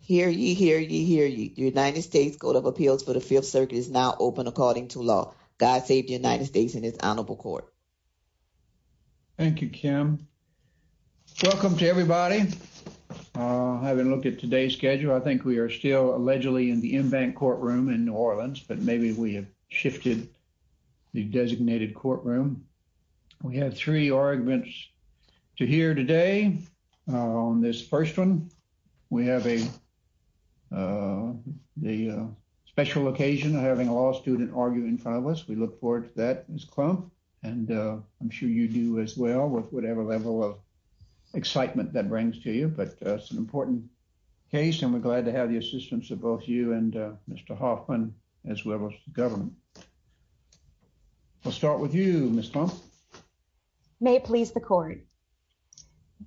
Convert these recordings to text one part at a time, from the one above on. Hear ye, hear ye, hear ye. The United States Court of Appeals for the Fifth Circuit is now open according to law. God save the United States and its honorable court. Thank you, Kim. Welcome to everybody. Having looked at today's schedule, I think we are still allegedly in the en banc courtroom in New Orleans, but maybe we have shifted the designated courtroom. We have three arguments to hear today. On this first one, we have a special occasion of having a law student argue in front of us. We look forward to that, Ms. Klump, and I'm sure you do as well with whatever level of excitement that brings to you. But it's an important case, and we're glad to have the assistance of both you and Mr. Hoffman, as well as the court. Ms. Klump? May it please the court.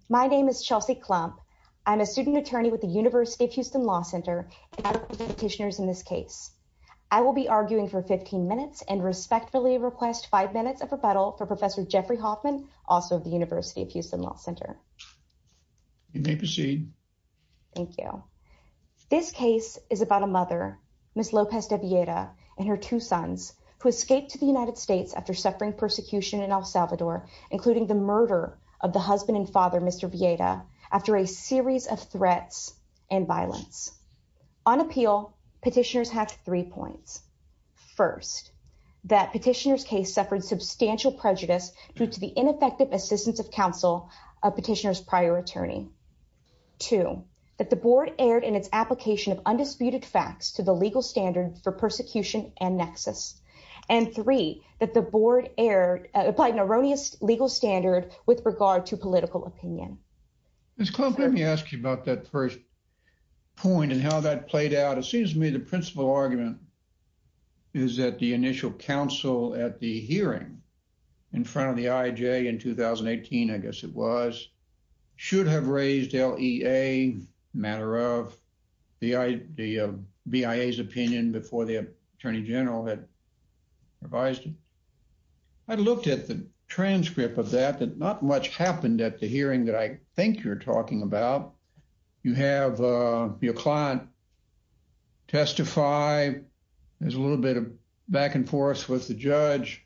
My name is Chelsea Klump. I'm a student attorney with the University of Houston Law Center, and I represent petitioners in this case. I will be arguing for 15 minutes and respectfully request five minutes of rebuttal for Professor Jeffrey Hoffman, also of the University of Houston Law Center. You may proceed. Thank you. This case is about a mother, Ms. Lopez De Villeda, and her two sons, who escaped to the United States after suffering persecution in El Salvador, including the murder of the husband and father, Mr. Villeda, after a series of threats and violence. On appeal, petitioners have three points. First, that petitioner's case suffered substantial prejudice due to the ineffective assistance of counsel of petitioner's prior attorney. Two, that the board erred in its application of an erroneous legal standard with regard to political opinion. Ms. Klump, let me ask you about that first point and how that played out. It seems to me the principal argument is that the initial counsel at the hearing in front of the IJ in 2018, I guess it was, should have raised LEA, matter of the BIA's opinion before the attorney general had revised it. I looked at the transcript of that. Not much happened at the hearing that I think you're talking about. You have your client testify. There's a little bit of back and forth with the judge.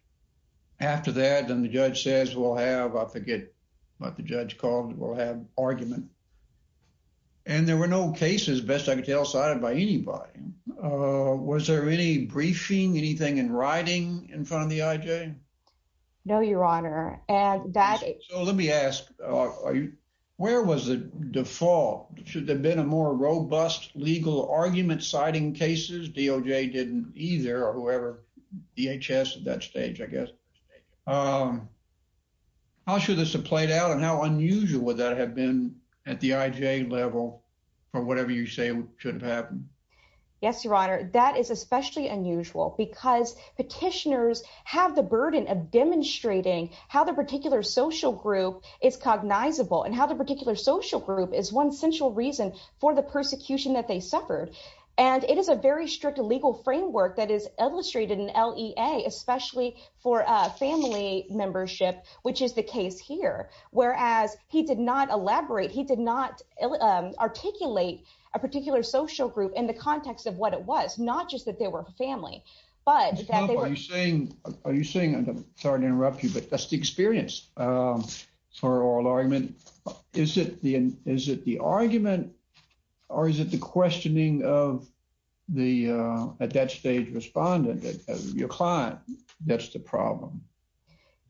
After that, then the judge says, we'll have, I forget what the judge called it, we'll have argument. And there were no cases, best I could tell, cited by anybody. Was there any No, your honor. So let me ask, where was the default? Should there have been a more robust legal argument citing cases? DOJ didn't either or whoever, DHS at that stage, I guess. How should this have played out and how unusual would that have been at the IJ level for whatever you say should have happened? Yes, your honor. That is especially unusual because petitioners have the burden of demonstrating how the particular social group is cognizable and how the particular social group is one central reason for the persecution that they suffered. And it is a very strict legal framework that is illustrated in LEA, especially for family membership, which is the case here. Whereas he did not elaborate, he did not articulate a particular social group in the context of what it was, not just that they were family, but are you saying, I'm sorry to interrupt you, but that's the experience for oral argument. Is it the argument or is it the questioning of the, at that stage, respondent, your client, that's the problem?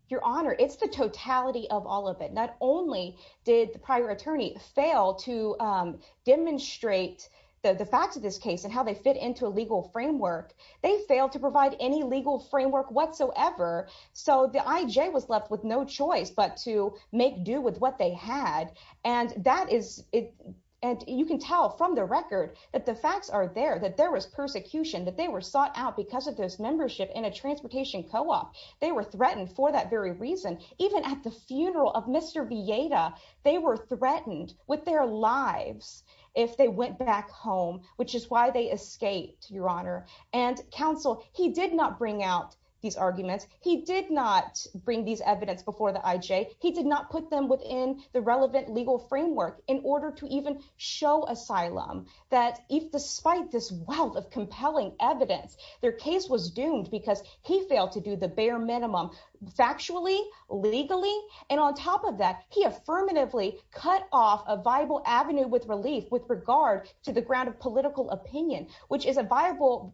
Your honor, it's the totality of all of it. Not only did the prior attorney fail to demonstrate the facts of this case and how they fit into a legal framework, they failed to provide any legal framework whatsoever. So the IJ was left with no choice, but to make do with what they had. And that is it. And you can tell from the record that the facts are there, that there was persecution, that they were sought out because of this membership in a transportation co-op. They were threatened for that very reason. Even at the funeral of Mr. Villeta, they were threatened with their lives if they went back home, which is why they escaped, your honor. And counsel, he did not bring out these arguments. He did not bring these evidence before the IJ. He did not put them within the relevant legal framework in order to even show asylum that if despite this wealth of compelling evidence, their case was doomed because he failed to do the bare minimum factually, legally. And on top of that, he affirmatively cut off a viable avenue with relief with regard to the ground of political opinion, which is a viable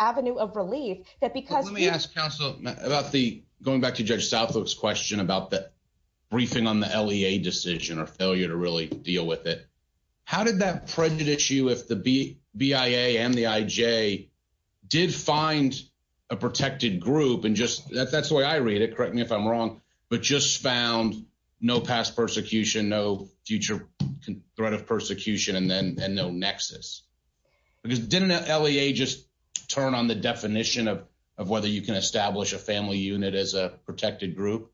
avenue of relief that because... Let me ask counsel about the, going back to Judge Southup's question about the briefing on the LEA decision or failure to really deal with it. How did that prejudice you if the BIA and the IJ did find a protected group and just, that's the way I read it, correct me if I'm wrong, but just found no past persecution, no future threat of persecution and then no nexus. Because didn't LEA just turn on the definition of whether you can establish a family unit as a protected group?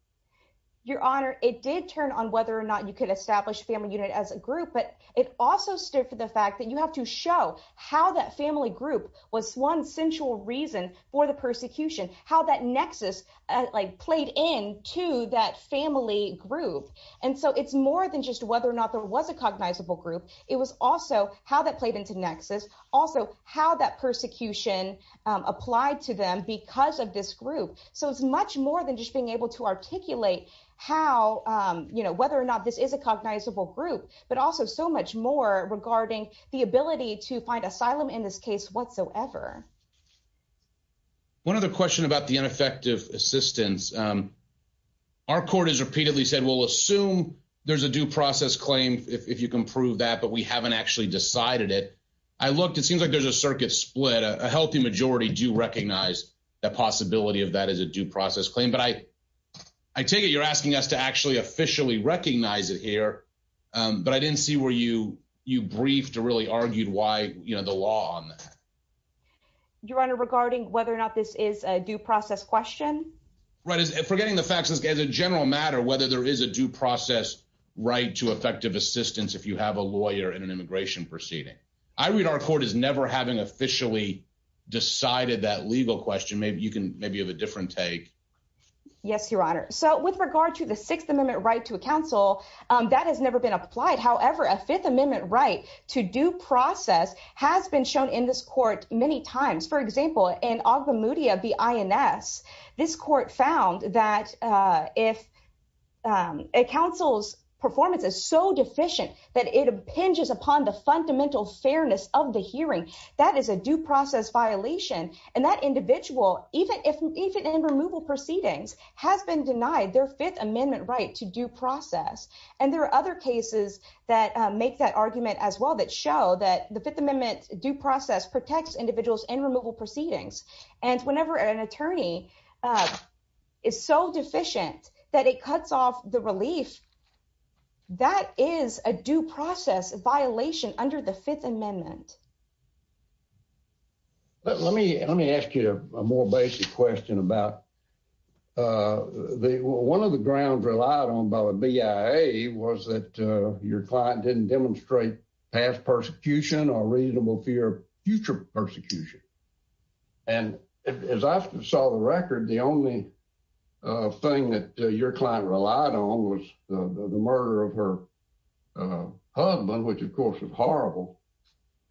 Your honor, it did turn on whether or not you could establish family unit as a group, but it also stood for the fact that you have to show how that family group was one central reason for the persecution, how that nexus like played into that family group. And so it's more than just whether or not there was a cognizable group, it was also how that played into nexus, also how that persecution applied to them because of this group. So it's much more than just being able to articulate how, whether or not this is a cognizable group, but also so much more regarding the ability to find asylum in this case whatsoever. One other question about the ineffective assistance. Our court has repeatedly said, we'll assume there's a due process claim if you can prove that, but we haven't actually decided it. I looked, it seems like there's a circuit split, a healthy majority do recognize that possibility of that as a due process claim, but I take it you're asking us to actually officially recognize it here, but I didn't see where you briefed or really argued why, the law on that. Your Honor, regarding whether or not this is a due process question. Right, forgetting the facts, as a general matter, whether there is a due process right to effective assistance if you have a lawyer in an immigration proceeding. I read our court as never having officially decided that legal question. Maybe you can, maybe you have a different take. Yes, Your Honor. So with regard to the Sixth Amendment right to a shown in this court many times. For example, in Ogbemudia v. INS, this court found that if counsel's performance is so deficient that it impinges upon the fundamental fairness of the hearing, that is a due process violation. And that individual, even in removal proceedings, has been denied their Fifth Amendment right to due process. And there are other cases that make that argument as well that show that the Fifth Amendment due process protects individuals in removal proceedings. And whenever an attorney is so deficient that it cuts off the relief, that is a due process violation under the Fifth Amendment. Let me ask you a more basic question about, one of the grounds relied on by the BIA was that your client didn't demonstrate past persecution or reasonable fear of future persecution. And as I saw the record, the only thing that your client relied on was the murder of her husband, which of course was horrible.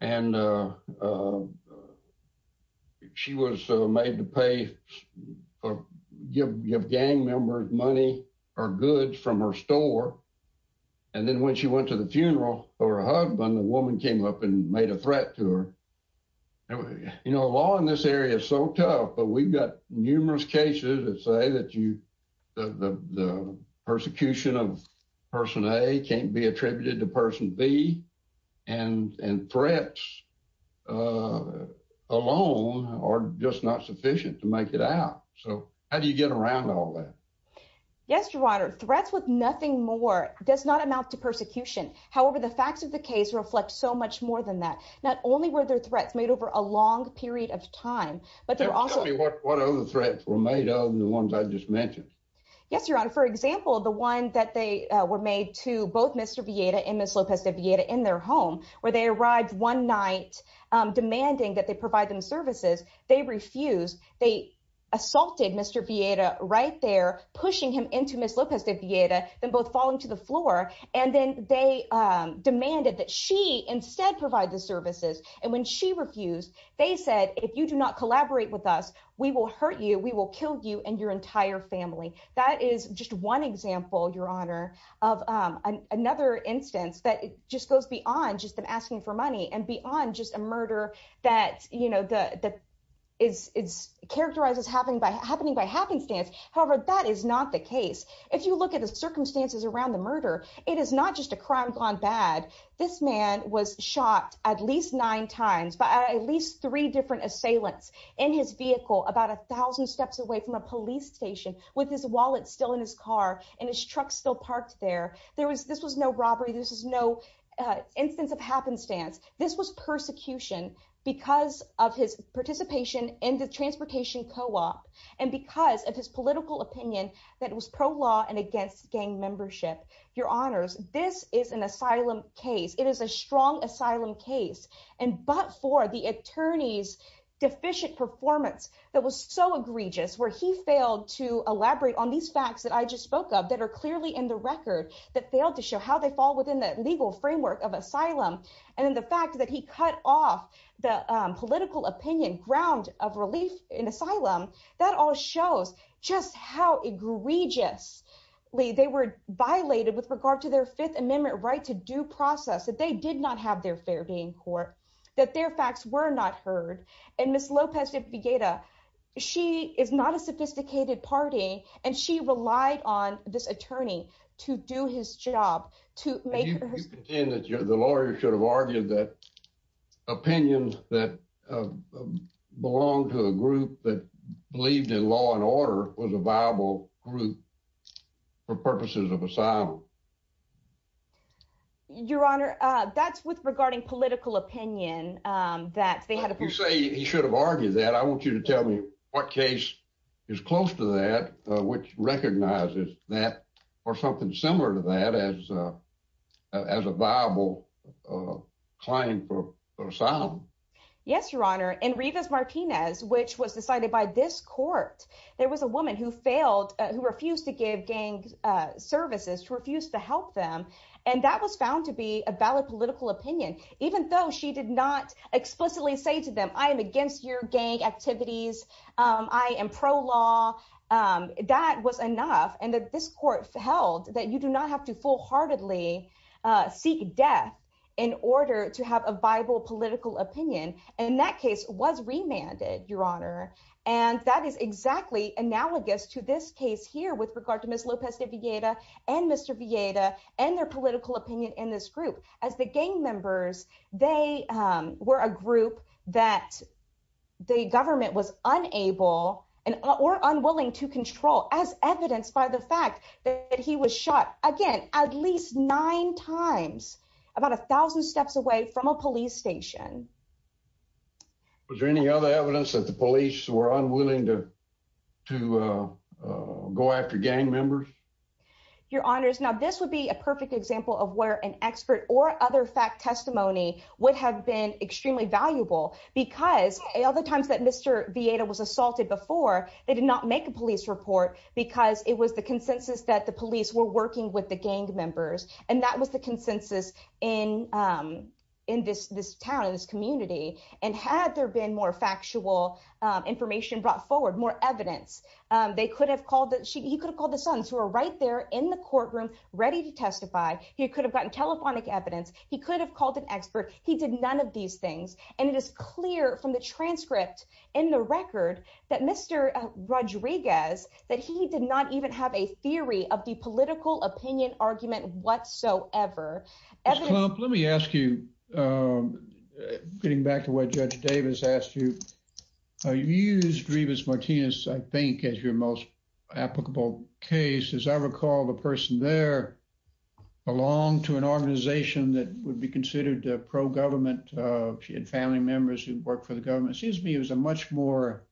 And she was made to pay, give gang members money or goods from her funeral. And when she went to the funeral for her husband, the woman came up and made a threat to her. You know, law in this area is so tough, but we've got numerous cases that say that you, that the persecution of person A can't be attributed to person B and threats alone are just not sufficient to make it out. So how do you get around all that? Yes, Your Honor. Threats with nothing more does not amount to persecution. However, the facts of the case reflect so much more than that. Not only were their threats made over a long period of time, but they're also- Tell me what other threats were made other than the ones I just mentioned. Yes, Your Honor. For example, the one that they were made to both Mr. Vieda and Ms. Lopez de Vieda in their home, where they arrived one night demanding that they provide them into Ms. Lopez de Vieda, them both falling to the floor. And then they demanded that she instead provide the services. And when she refused, they said, if you do not collaborate with us, we will hurt you. We will kill you and your entire family. That is just one example, Your Honor, of another instance that just goes beyond just them asking for money and beyond just a murder that characterizes happening by happenstance. However, that is not the case. If you look at the circumstances around the murder, it is not just a crime gone bad. This man was shot at least nine times by at least three different assailants in his vehicle, about a thousand steps away from a police station with his wallet still in his car and his truck still parked there. This was no because of his participation in the transportation co-op and because of his political opinion that was pro-law and against gang membership. Your Honors, this is an asylum case. It is a strong asylum case, but for the attorney's deficient performance that was so egregious where he failed to elaborate on these facts that I just spoke of that are clearly in the record that failed to show how they fall within the legal framework of asylum. And then the fact that he cut off the political opinion ground of relief in asylum, that all shows just how egregious they were violated with regard to their Fifth Amendment right to due process, that they did not have their fair being court, that their facts were not heard. And Ms. Lopez-DeFegeda, she is not a sophisticated party and she relied on this attorney to do his job. You contend that the lawyer should have argued that opinions that belong to a group that believed in law and order was a viable group for purposes of asylum. Your Honor, that's with regarding political opinion. You say he should have argued that. I want you to tell me what case is close to that, which recognizes that or something similar to that as a viable claim for asylum. Yes, Your Honor. In Rivas Martinez, which was decided by this court, there was a woman who failed, who refused to give gang services, who refused to help them. And that was found to be a valid political opinion, even though she did not explicitly say to them, I am against your gang activities. I am pro-law. That was enough. And that this court held that you do not have to full heartedly seek death in order to have a viable political opinion. And that case was remanded, Your Honor. And that is exactly analogous to this case here with regard to Ms. Lopez-DeFegeda and Mr. Villeta and their political opinion in this group. As the gang members, they were a group that the government was unable or unwilling to control as evidenced by the fact that he was shot again, at least nine times, about a thousand steps away from a police station. Was there any other evidence that the police were unwilling to go after gang members? Your Honors, now this would be a perfect example of where an expert or other fact testimony would have been extremely valuable because all the times that Mr. Villeta was assaulted before, they did not make a police report because it was the consensus that the police were working with the gang members. And that was the consensus in this town, in this community. And had there been more factual information brought forward, more evidence, he could have called the sons who are right there in the courtroom, ready to testify. He could have gotten telephonic evidence. He could have called an expert. He did none of these things. And it is clear from the transcript in the record that Mr. Rodriguez, that he did not even have a theory of the political opinion argument whatsoever. Ms. Klump, let me ask you, getting back to what Judge Davis asked you, you used Rivas Martinez, I think, as your most applicable case. As I recall, the person there belonged to an organization that would be considered pro-government. She had family members who worked for the government. It seems to me it was a much more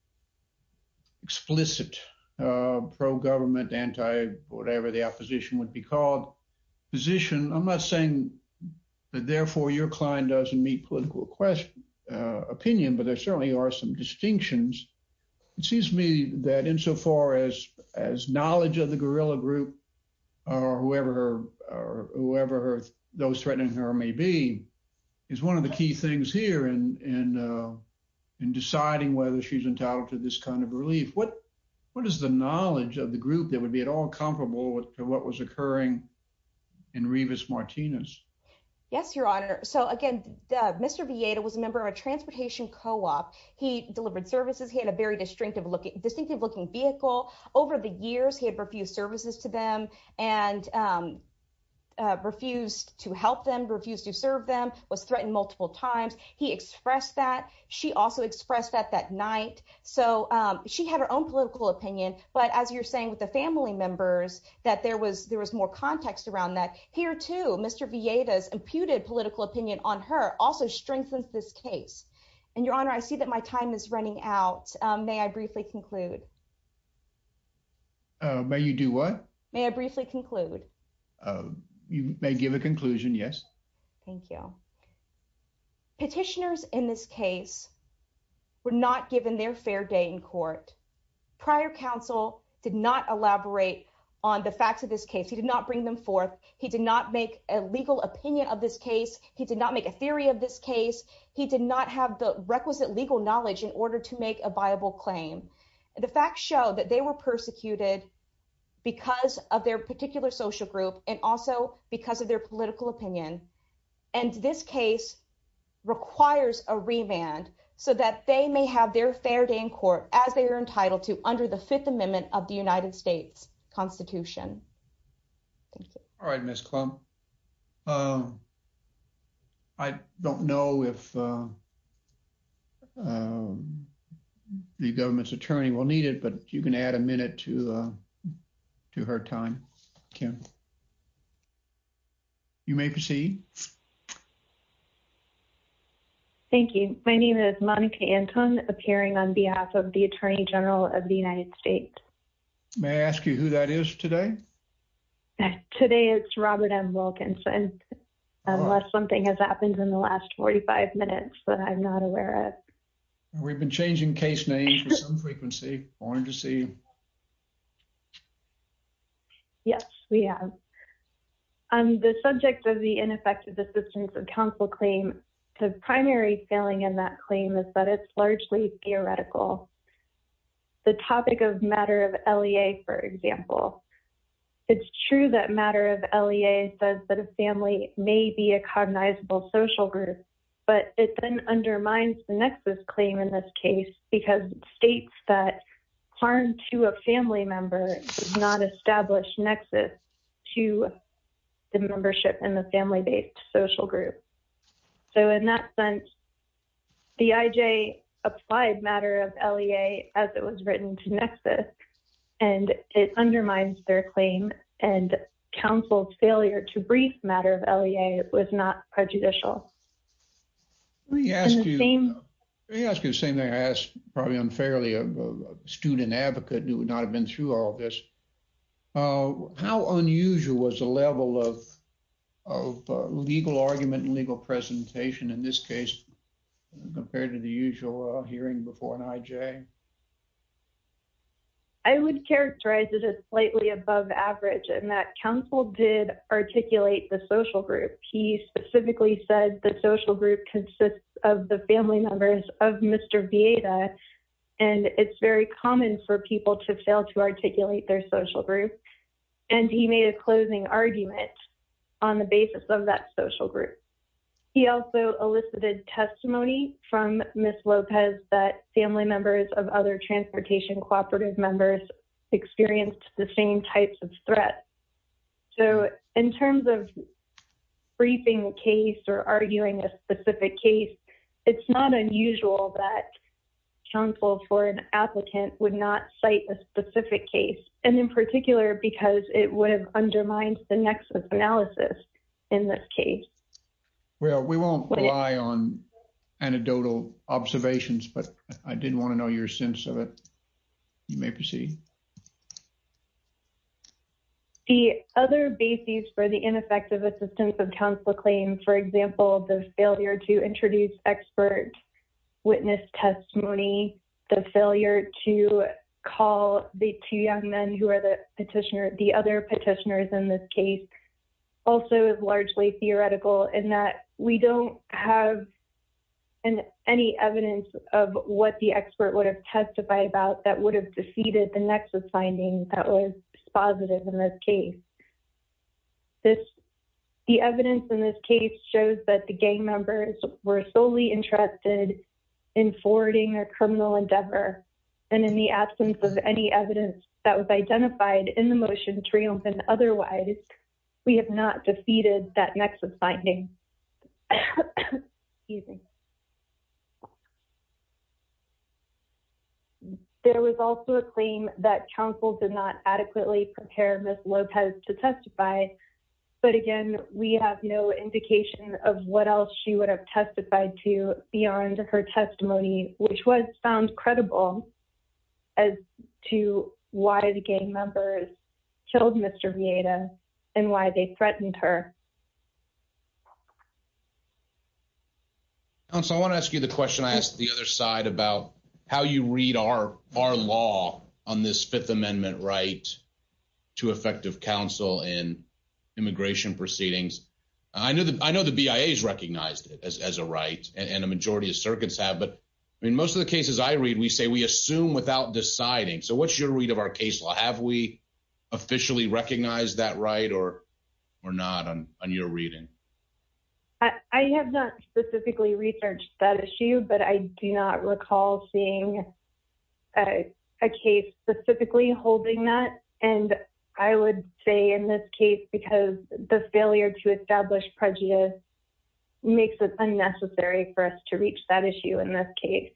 explicit pro-government, anti-whatever the opposition would be called position. I'm not saying that therefore your client doesn't meet political opinion, but there certainly are some distinctions. It seems to me that insofar as knowledge of the guerrilla group or whoever those threatening her may be, is one of the key things here in deciding whether she's entitled to this kind of relief. What is the knowledge of the group that would be at all comparable to what was occurring in Rivas Martinez? Yes, Your Honor. So again, Mr. Villeda was a member of a transportation co-op. He delivered services. He had a very distinctive looking vehicle. Over the years, he had refused services to them and refused to help them, refused to serve them, was threatened multiple times. He expressed that. She also expressed that that night. So she had her own political opinion. But as you're saying with the family members, that there was more context around that. Here too, Mr. Villeda's imputed political opinion on her also strengthens this case. And Your Honor, I see that my time is running out. May I briefly conclude? May you do what? May I briefly conclude? You may give a conclusion. Yes. Thank you. Petitioners in this case were not given their fair day in court. Prior counsel did not elaborate on the facts of this case. He did not bring them forth. He did not make a legal opinion of this case. He did not make a theory of this case. He did not have the requisite legal knowledge in claim. The facts show that they were persecuted because of their particular social group and also because of their political opinion. And this case requires a remand so that they may have their fair day in court as they are entitled to under the Fifth Amendment of the United States Constitution. All right, Miss Klum. I don't know if the government's attorney will need it, but you can add a minute to her time. You may proceed. Thank you. My name is Monica Anton, appearing on behalf of the Attorney General of the United States. May I ask you who that is today? Today, it's Robert M. Wilkinson. Unless something has happened in the last 45 minutes that I'm not aware of. We've been changing case names with some frequency. Wanted to see you. Yes, we have. On the subject of the ineffective assistance of counsel claim, the primary feeling in that claim is that it's largely theoretical. The topic of matter of LEA, for example. It's true that matter of LEA says that a family may be a cognizable social group, but it then undermines the nexus claim in this case because it states that harm to a family member does not establish nexus to the membership in the family based social group. So in that sense, the IJ applied matter of LEA as it was written to nexus and it undermines their claim and counsel failure to brief matter of LEA was not prejudicial. Let me ask you the same thing I asked probably unfairly a student advocate who would not have through all this. How unusual was the level of legal argument and legal presentation in this case compared to the usual hearing before an IJ? I would characterize it as slightly above average in that counsel did articulate the social group. He specifically said the social group consists of the family members of Mr. Vieta and it's very common for people to fail to articulate their social group. And he made a closing argument on the basis of that social group. He also elicited testimony from Ms. Lopez that family members of other transportation cooperative members experienced the same types of threats. So in terms of briefing a case or it's not unusual that counsel for an applicant would not cite a specific case and in particular because it would have undermined the nexus analysis in this case. Well, we won't rely on anecdotal observations, but I didn't want to know your sense of it. You may proceed. The other basis for the ineffective assistance of counsel claims, for example, the failure to introduce expert witness testimony, the failure to call the two young men who are the petitioner, the other petitioners in this case also is largely theoretical in that we don't have any evidence of what the expert would have testified about that would have defeated the nexus finding that was positive in this case. The evidence in this case shows that the gang members were solely interested in forwarding a criminal endeavor and in the absence of any evidence that was identified in the motion to reopen otherwise, we have not defeated that counsel did not adequately prepare Ms. Lopez to testify. But again, we have no indication of what else she would have testified to beyond her testimony, which was found credible as to why the gang members killed Mr. Vieda and why they threatened her. And so I want to ask you the question I asked the other side about how you read our our law on this Fifth Amendment right to effective counsel in immigration proceedings. I know that I know the BIA is recognized as a right and a majority of circuits have. But in most of the cases I read, we say we assume without deciding. So what's your read of our case law? Have we officially recognized that right or or not on your reading? I have not specifically researched that issue, but I do not recall seeing a case specifically holding that. And I would say in this case, because the failure to establish prejudice makes it unnecessary for us to reach that issue in this case.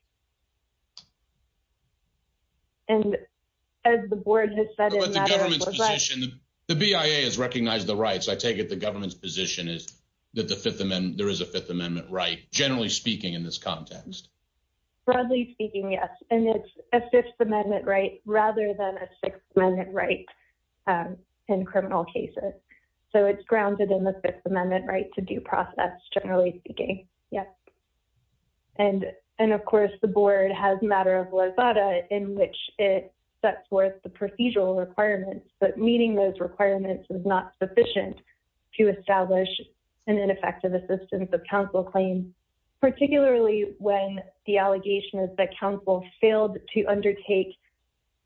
And as the board has said, the government's position, the BIA has recognized the rights, I take it the government's position is that the Fifth Amendment, there is a Fifth Amendment right, generally speaking in this context. Broadly speaking, yes. And it's a Fifth Amendment right, rather than a Sixth Amendment right in criminal cases. So it's grounded in the Fifth Amendment right to due process, generally speaking. Yes. And and of course, the board has matter of lazada in which it sets forth the procedural requirements, but meeting those requirements is not sufficient to establish an ineffective assistance of counsel claim, particularly when the allegation is that counsel failed to undertake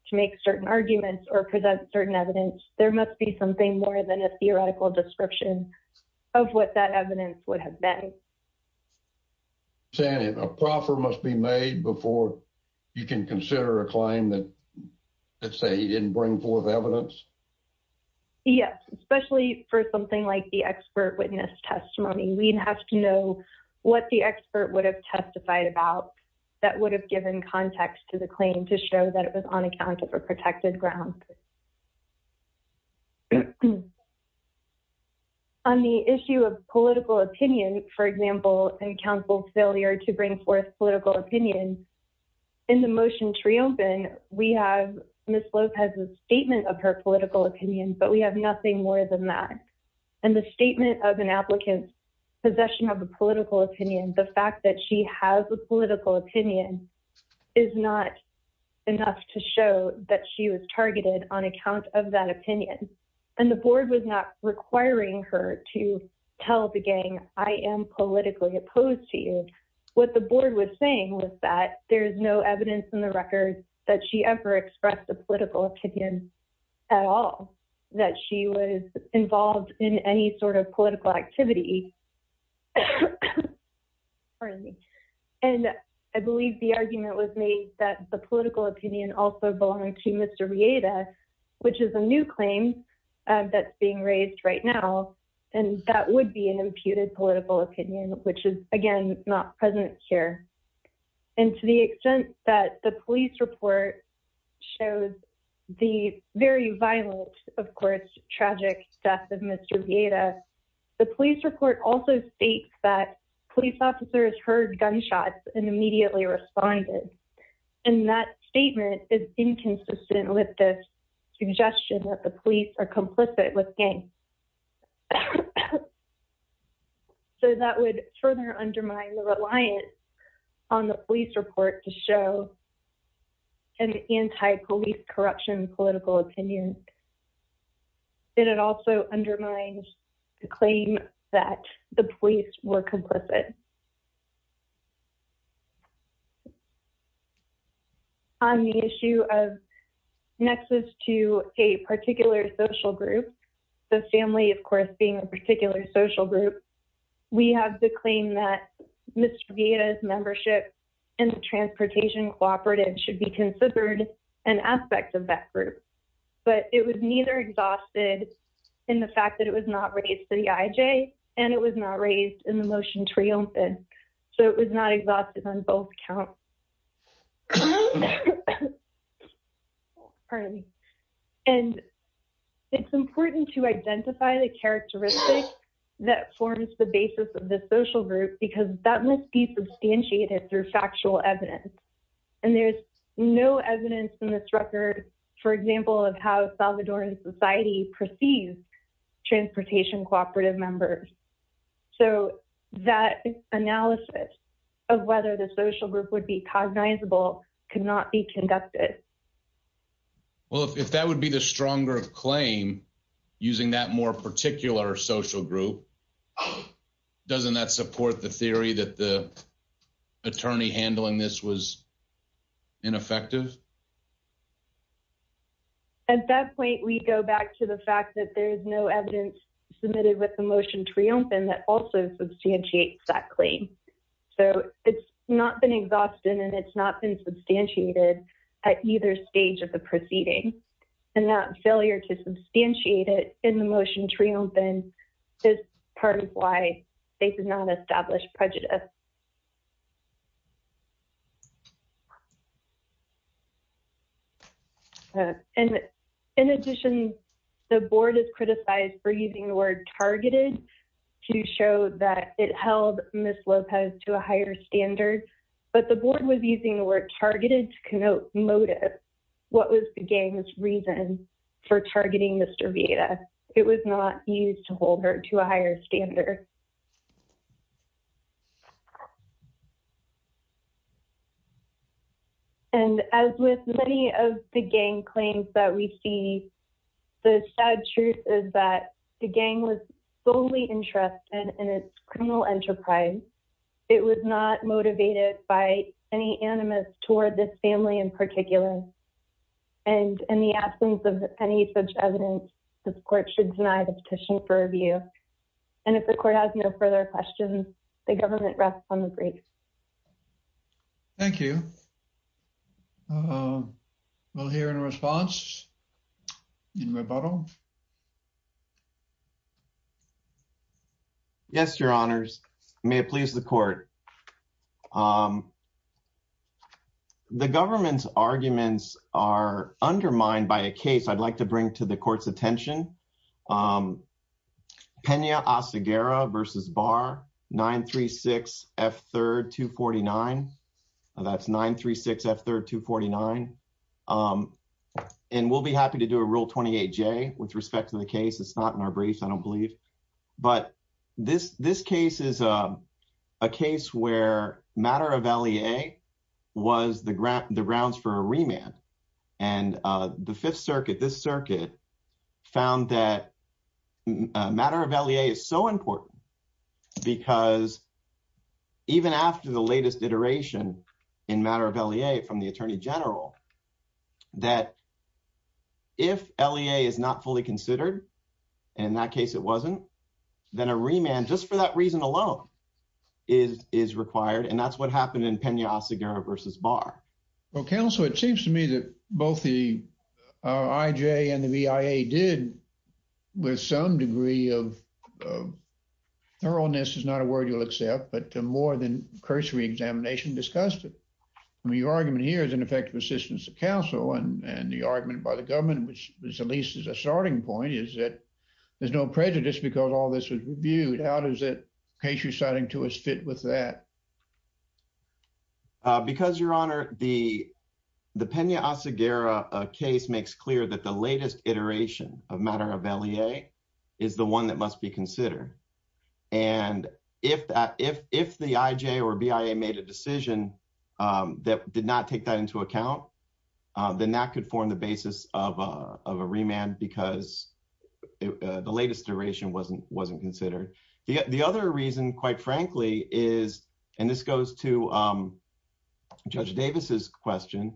to make certain arguments or present certain evidence. There must be something more than a theoretical description of what that evidence would have been. Saying a proffer must be made before you can consider a claim that, let's say, he didn't bring forth evidence? Yes, especially for something like the expert witness testimony, we'd have to know what the expert would have testified about that would have given context to the claim to show that it was on account of a protected ground. And on the issue of political opinion, for example, and counsel failure to bring forth political opinion in the motion to reopen, we have Ms. Lopez's statement of her political opinion, but we have nothing more than that. And the statement of an applicant's possession of a political opinion, the fact that she has a political opinion is not enough to show that she was targeted on account of that opinion. And the board was not requiring her to tell the gang, I am politically opposed to you. What the board was saying was that there's no evidence in the record that she ever expressed a political opinion at all, that she was involved in any sort of political activity. And I believe the argument was made that the political opinion also belonged to Mr. Rieda, which is a new claim that's being raised right now. And that would be an imputed political opinion, which is again, not present here. And to the extent that the police report shows the very violent, of course, tragic death of Mr. Rieda, the police report also states that police officers heard gunshots and immediately responded. And that statement is inconsistent with this suggestion that the police are complicit with gangs. So that would further undermine the reliance on the police report to show an anti-police corruption political opinion. And it also undermines the claim that the police were complicit. On the issue of nexus to a particular social group, the family, of course, being a particular social group, we have the claim that Mr. Rieda's membership in the transportation cooperative should be considered an aspect of that group. But it was neither exhausted in the fact that it was not raised to the IJ, and it was not raised in the motion triumphant. So it was not exhausted on both counts. And it's important to identify the characteristics that forms the basis of the social group, because that must be substantiated through factual evidence. And there's no evidence in this record, for example, of how Salvadoran society perceives transportation cooperative members. So that analysis of whether the social group would be cognizable could not be conducted. Well, if that would be the stronger claim, using that more particular social group, doesn't that support the theory that the attorney handling this was ineffective? At that point, we go back to the fact that there is no evidence submitted with the motion triumphant that also substantiates that claim. So it's not been exhausted, and it's not been substantiated at either stage of the proceeding. And that failure to substantiate it in the motion triumphant is part of why they did not establish prejudice. And in addition, the board is criticized for using the word targeted to show that it held Ms. Lopez to a higher standard. But the board was using the word targeted to connote motive. What was the gang's reason for targeting Mr. Vieira? It was not used to hold her to a higher standard. And as with many of the gang claims that we see, the sad truth is that the gang was solely interested in its criminal enterprise. It was not motivated by any animus toward this family in particular. And in the absence of any such evidence, this court should deny the petition for review. And if the court has no further questions, the government rests on the brief. Thank you. We'll hear in response, in rebuttal. Yes, Your Honors. May it please the court. The government's arguments are undermined by a case I'd like to bring to the court's attention. Pena-Aseguera v. Barr, 936F3249. And we'll be happy to do a Rule 28J with respect to the case. It's not in our briefs, I don't believe. But this case is a case where matter of L.E.A. was the grounds for a remand. And the Fifth Circuit, this circuit, found that matter of L.E.A. is so important because even after the latest iteration in matter of L.E.A. from the Attorney General, that if L.E.A. is not fully considered, and in that case it wasn't, then a Pena-Aseguera v. Barr. Well, counsel, it seems to me that both the I.J. and the V.I.A. did with some degree of thoroughness, is not a word you'll accept, but more than cursory examination discussed it. I mean, your argument here is an effective assistance to counsel. And the argument by the government, which at least is a starting point, is that there's no prejudice because all this was reviewed. How does that case you're citing to us fit with that? Because, Your Honor, the Pena-Aseguera case makes clear that the latest iteration of matter of L.E.A. is the one that must be considered. And if the I.J. or V.I.A. made a decision that did not take that into account, then that could form the basis of a remand because the latest iteration wasn't considered. The other reason, quite frankly, is, and this goes to Judge Davis's question,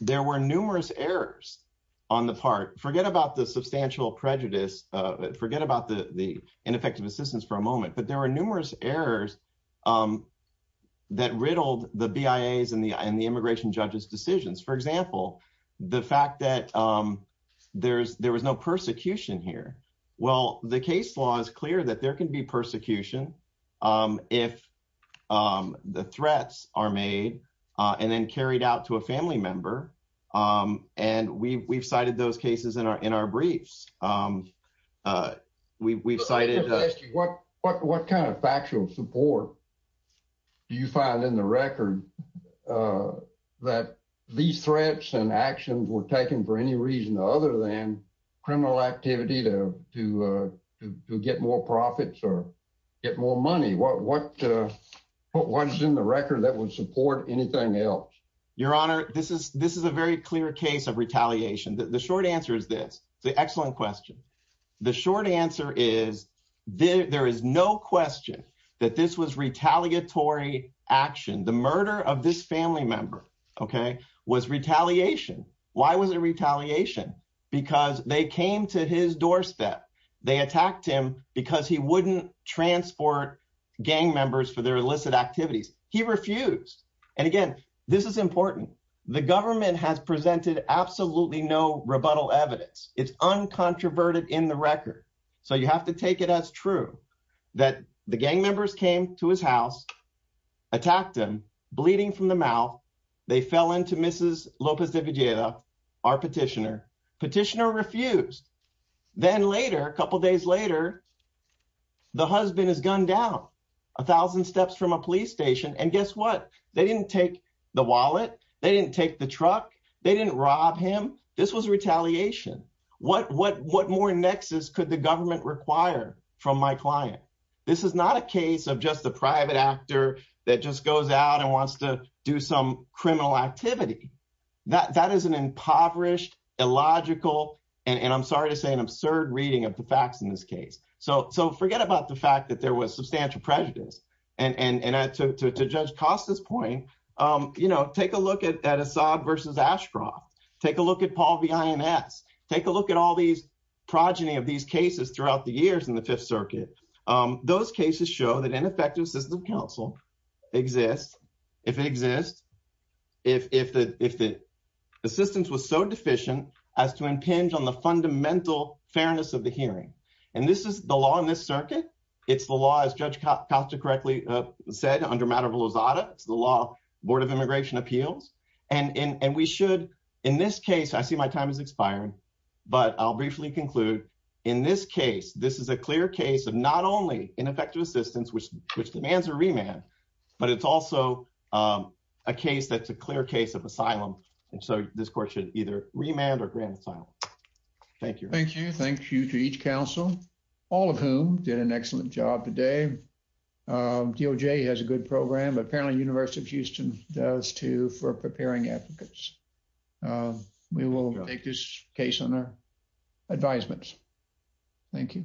there were numerous errors on the part, forget about the substantial prejudice, forget about the ineffective assistance for a moment, but there were numerous errors that riddled the V.I.A.'s and the immigration judge's decisions. For example, the fact that there was no persecution here. Well, the case law is clear that there can be persecution if the threats are made and then carried out to a family member. And we've cited those cases in our briefs. We've cited- I just want to ask you, what kind of factual support do you find in the record that these threats and actions were taken for any reason other than criminal activity to get more profits or get more money? What is in the record that would support anything else? Your Honor, this is a very clear case of retaliation. The short answer is this. It's an excellent question. The short answer is there is no question that this was retaliatory action. The murder of this family member was retaliation. Why was it retaliation? Because they came to his doorstep. They attacked him because he wouldn't transport gang members for their illicit activities. He refused. And again, this is important. The government has presented absolutely no rebuttal evidence. It's uncontroverted in the record. So you have to take it as true that the gang members came to his house, attacked him, bleeding from the mouth. They fell into Mrs. Lopez de Villegas, our petitioner. Petitioner refused. Then later, a couple of days later, the husband is gunned down a thousand steps from a police station. Guess what? They didn't take the wallet. They didn't take the truck. They didn't rob him. This was retaliation. What more nexus could the government require from my client? This is not a case of just a private actor that just goes out and wants to do some criminal activity. That is an impoverished, illogical, and I'm sorry to say, an absurd reading of the facts in this case. So forget about the fact that there was substantial prejudice. And to Judge Costa's point, take a look at Assad versus Ashcroft. Take a look at Paul v. INS. Take a look at all these progeny of these cases throughout the years in the Fifth Circuit. Those cases show that ineffective system counsel exists if it exists, if the assistance was so deficient as to impinge on the fundamental fairness of the hearing. And this is the law in this circuit. It's the law, as Judge Costa correctly said, under matter of Lozada. It's the law, Board of Immigration Appeals. And we should, in this case, I see my time is expiring, but I'll briefly conclude. In this case, this is a clear case of not only ineffective assistance, which demands a remand, but it's also a case that's a clear case of asylum. And so this court should either remand or grant asylum. Thank you. Thank you. Thank you to each counsel, all of whom did an excellent job today. DOJ has a good program, but apparently University of Houston does, too, for preparing advocates. We will take this case on our advisements. Thank you.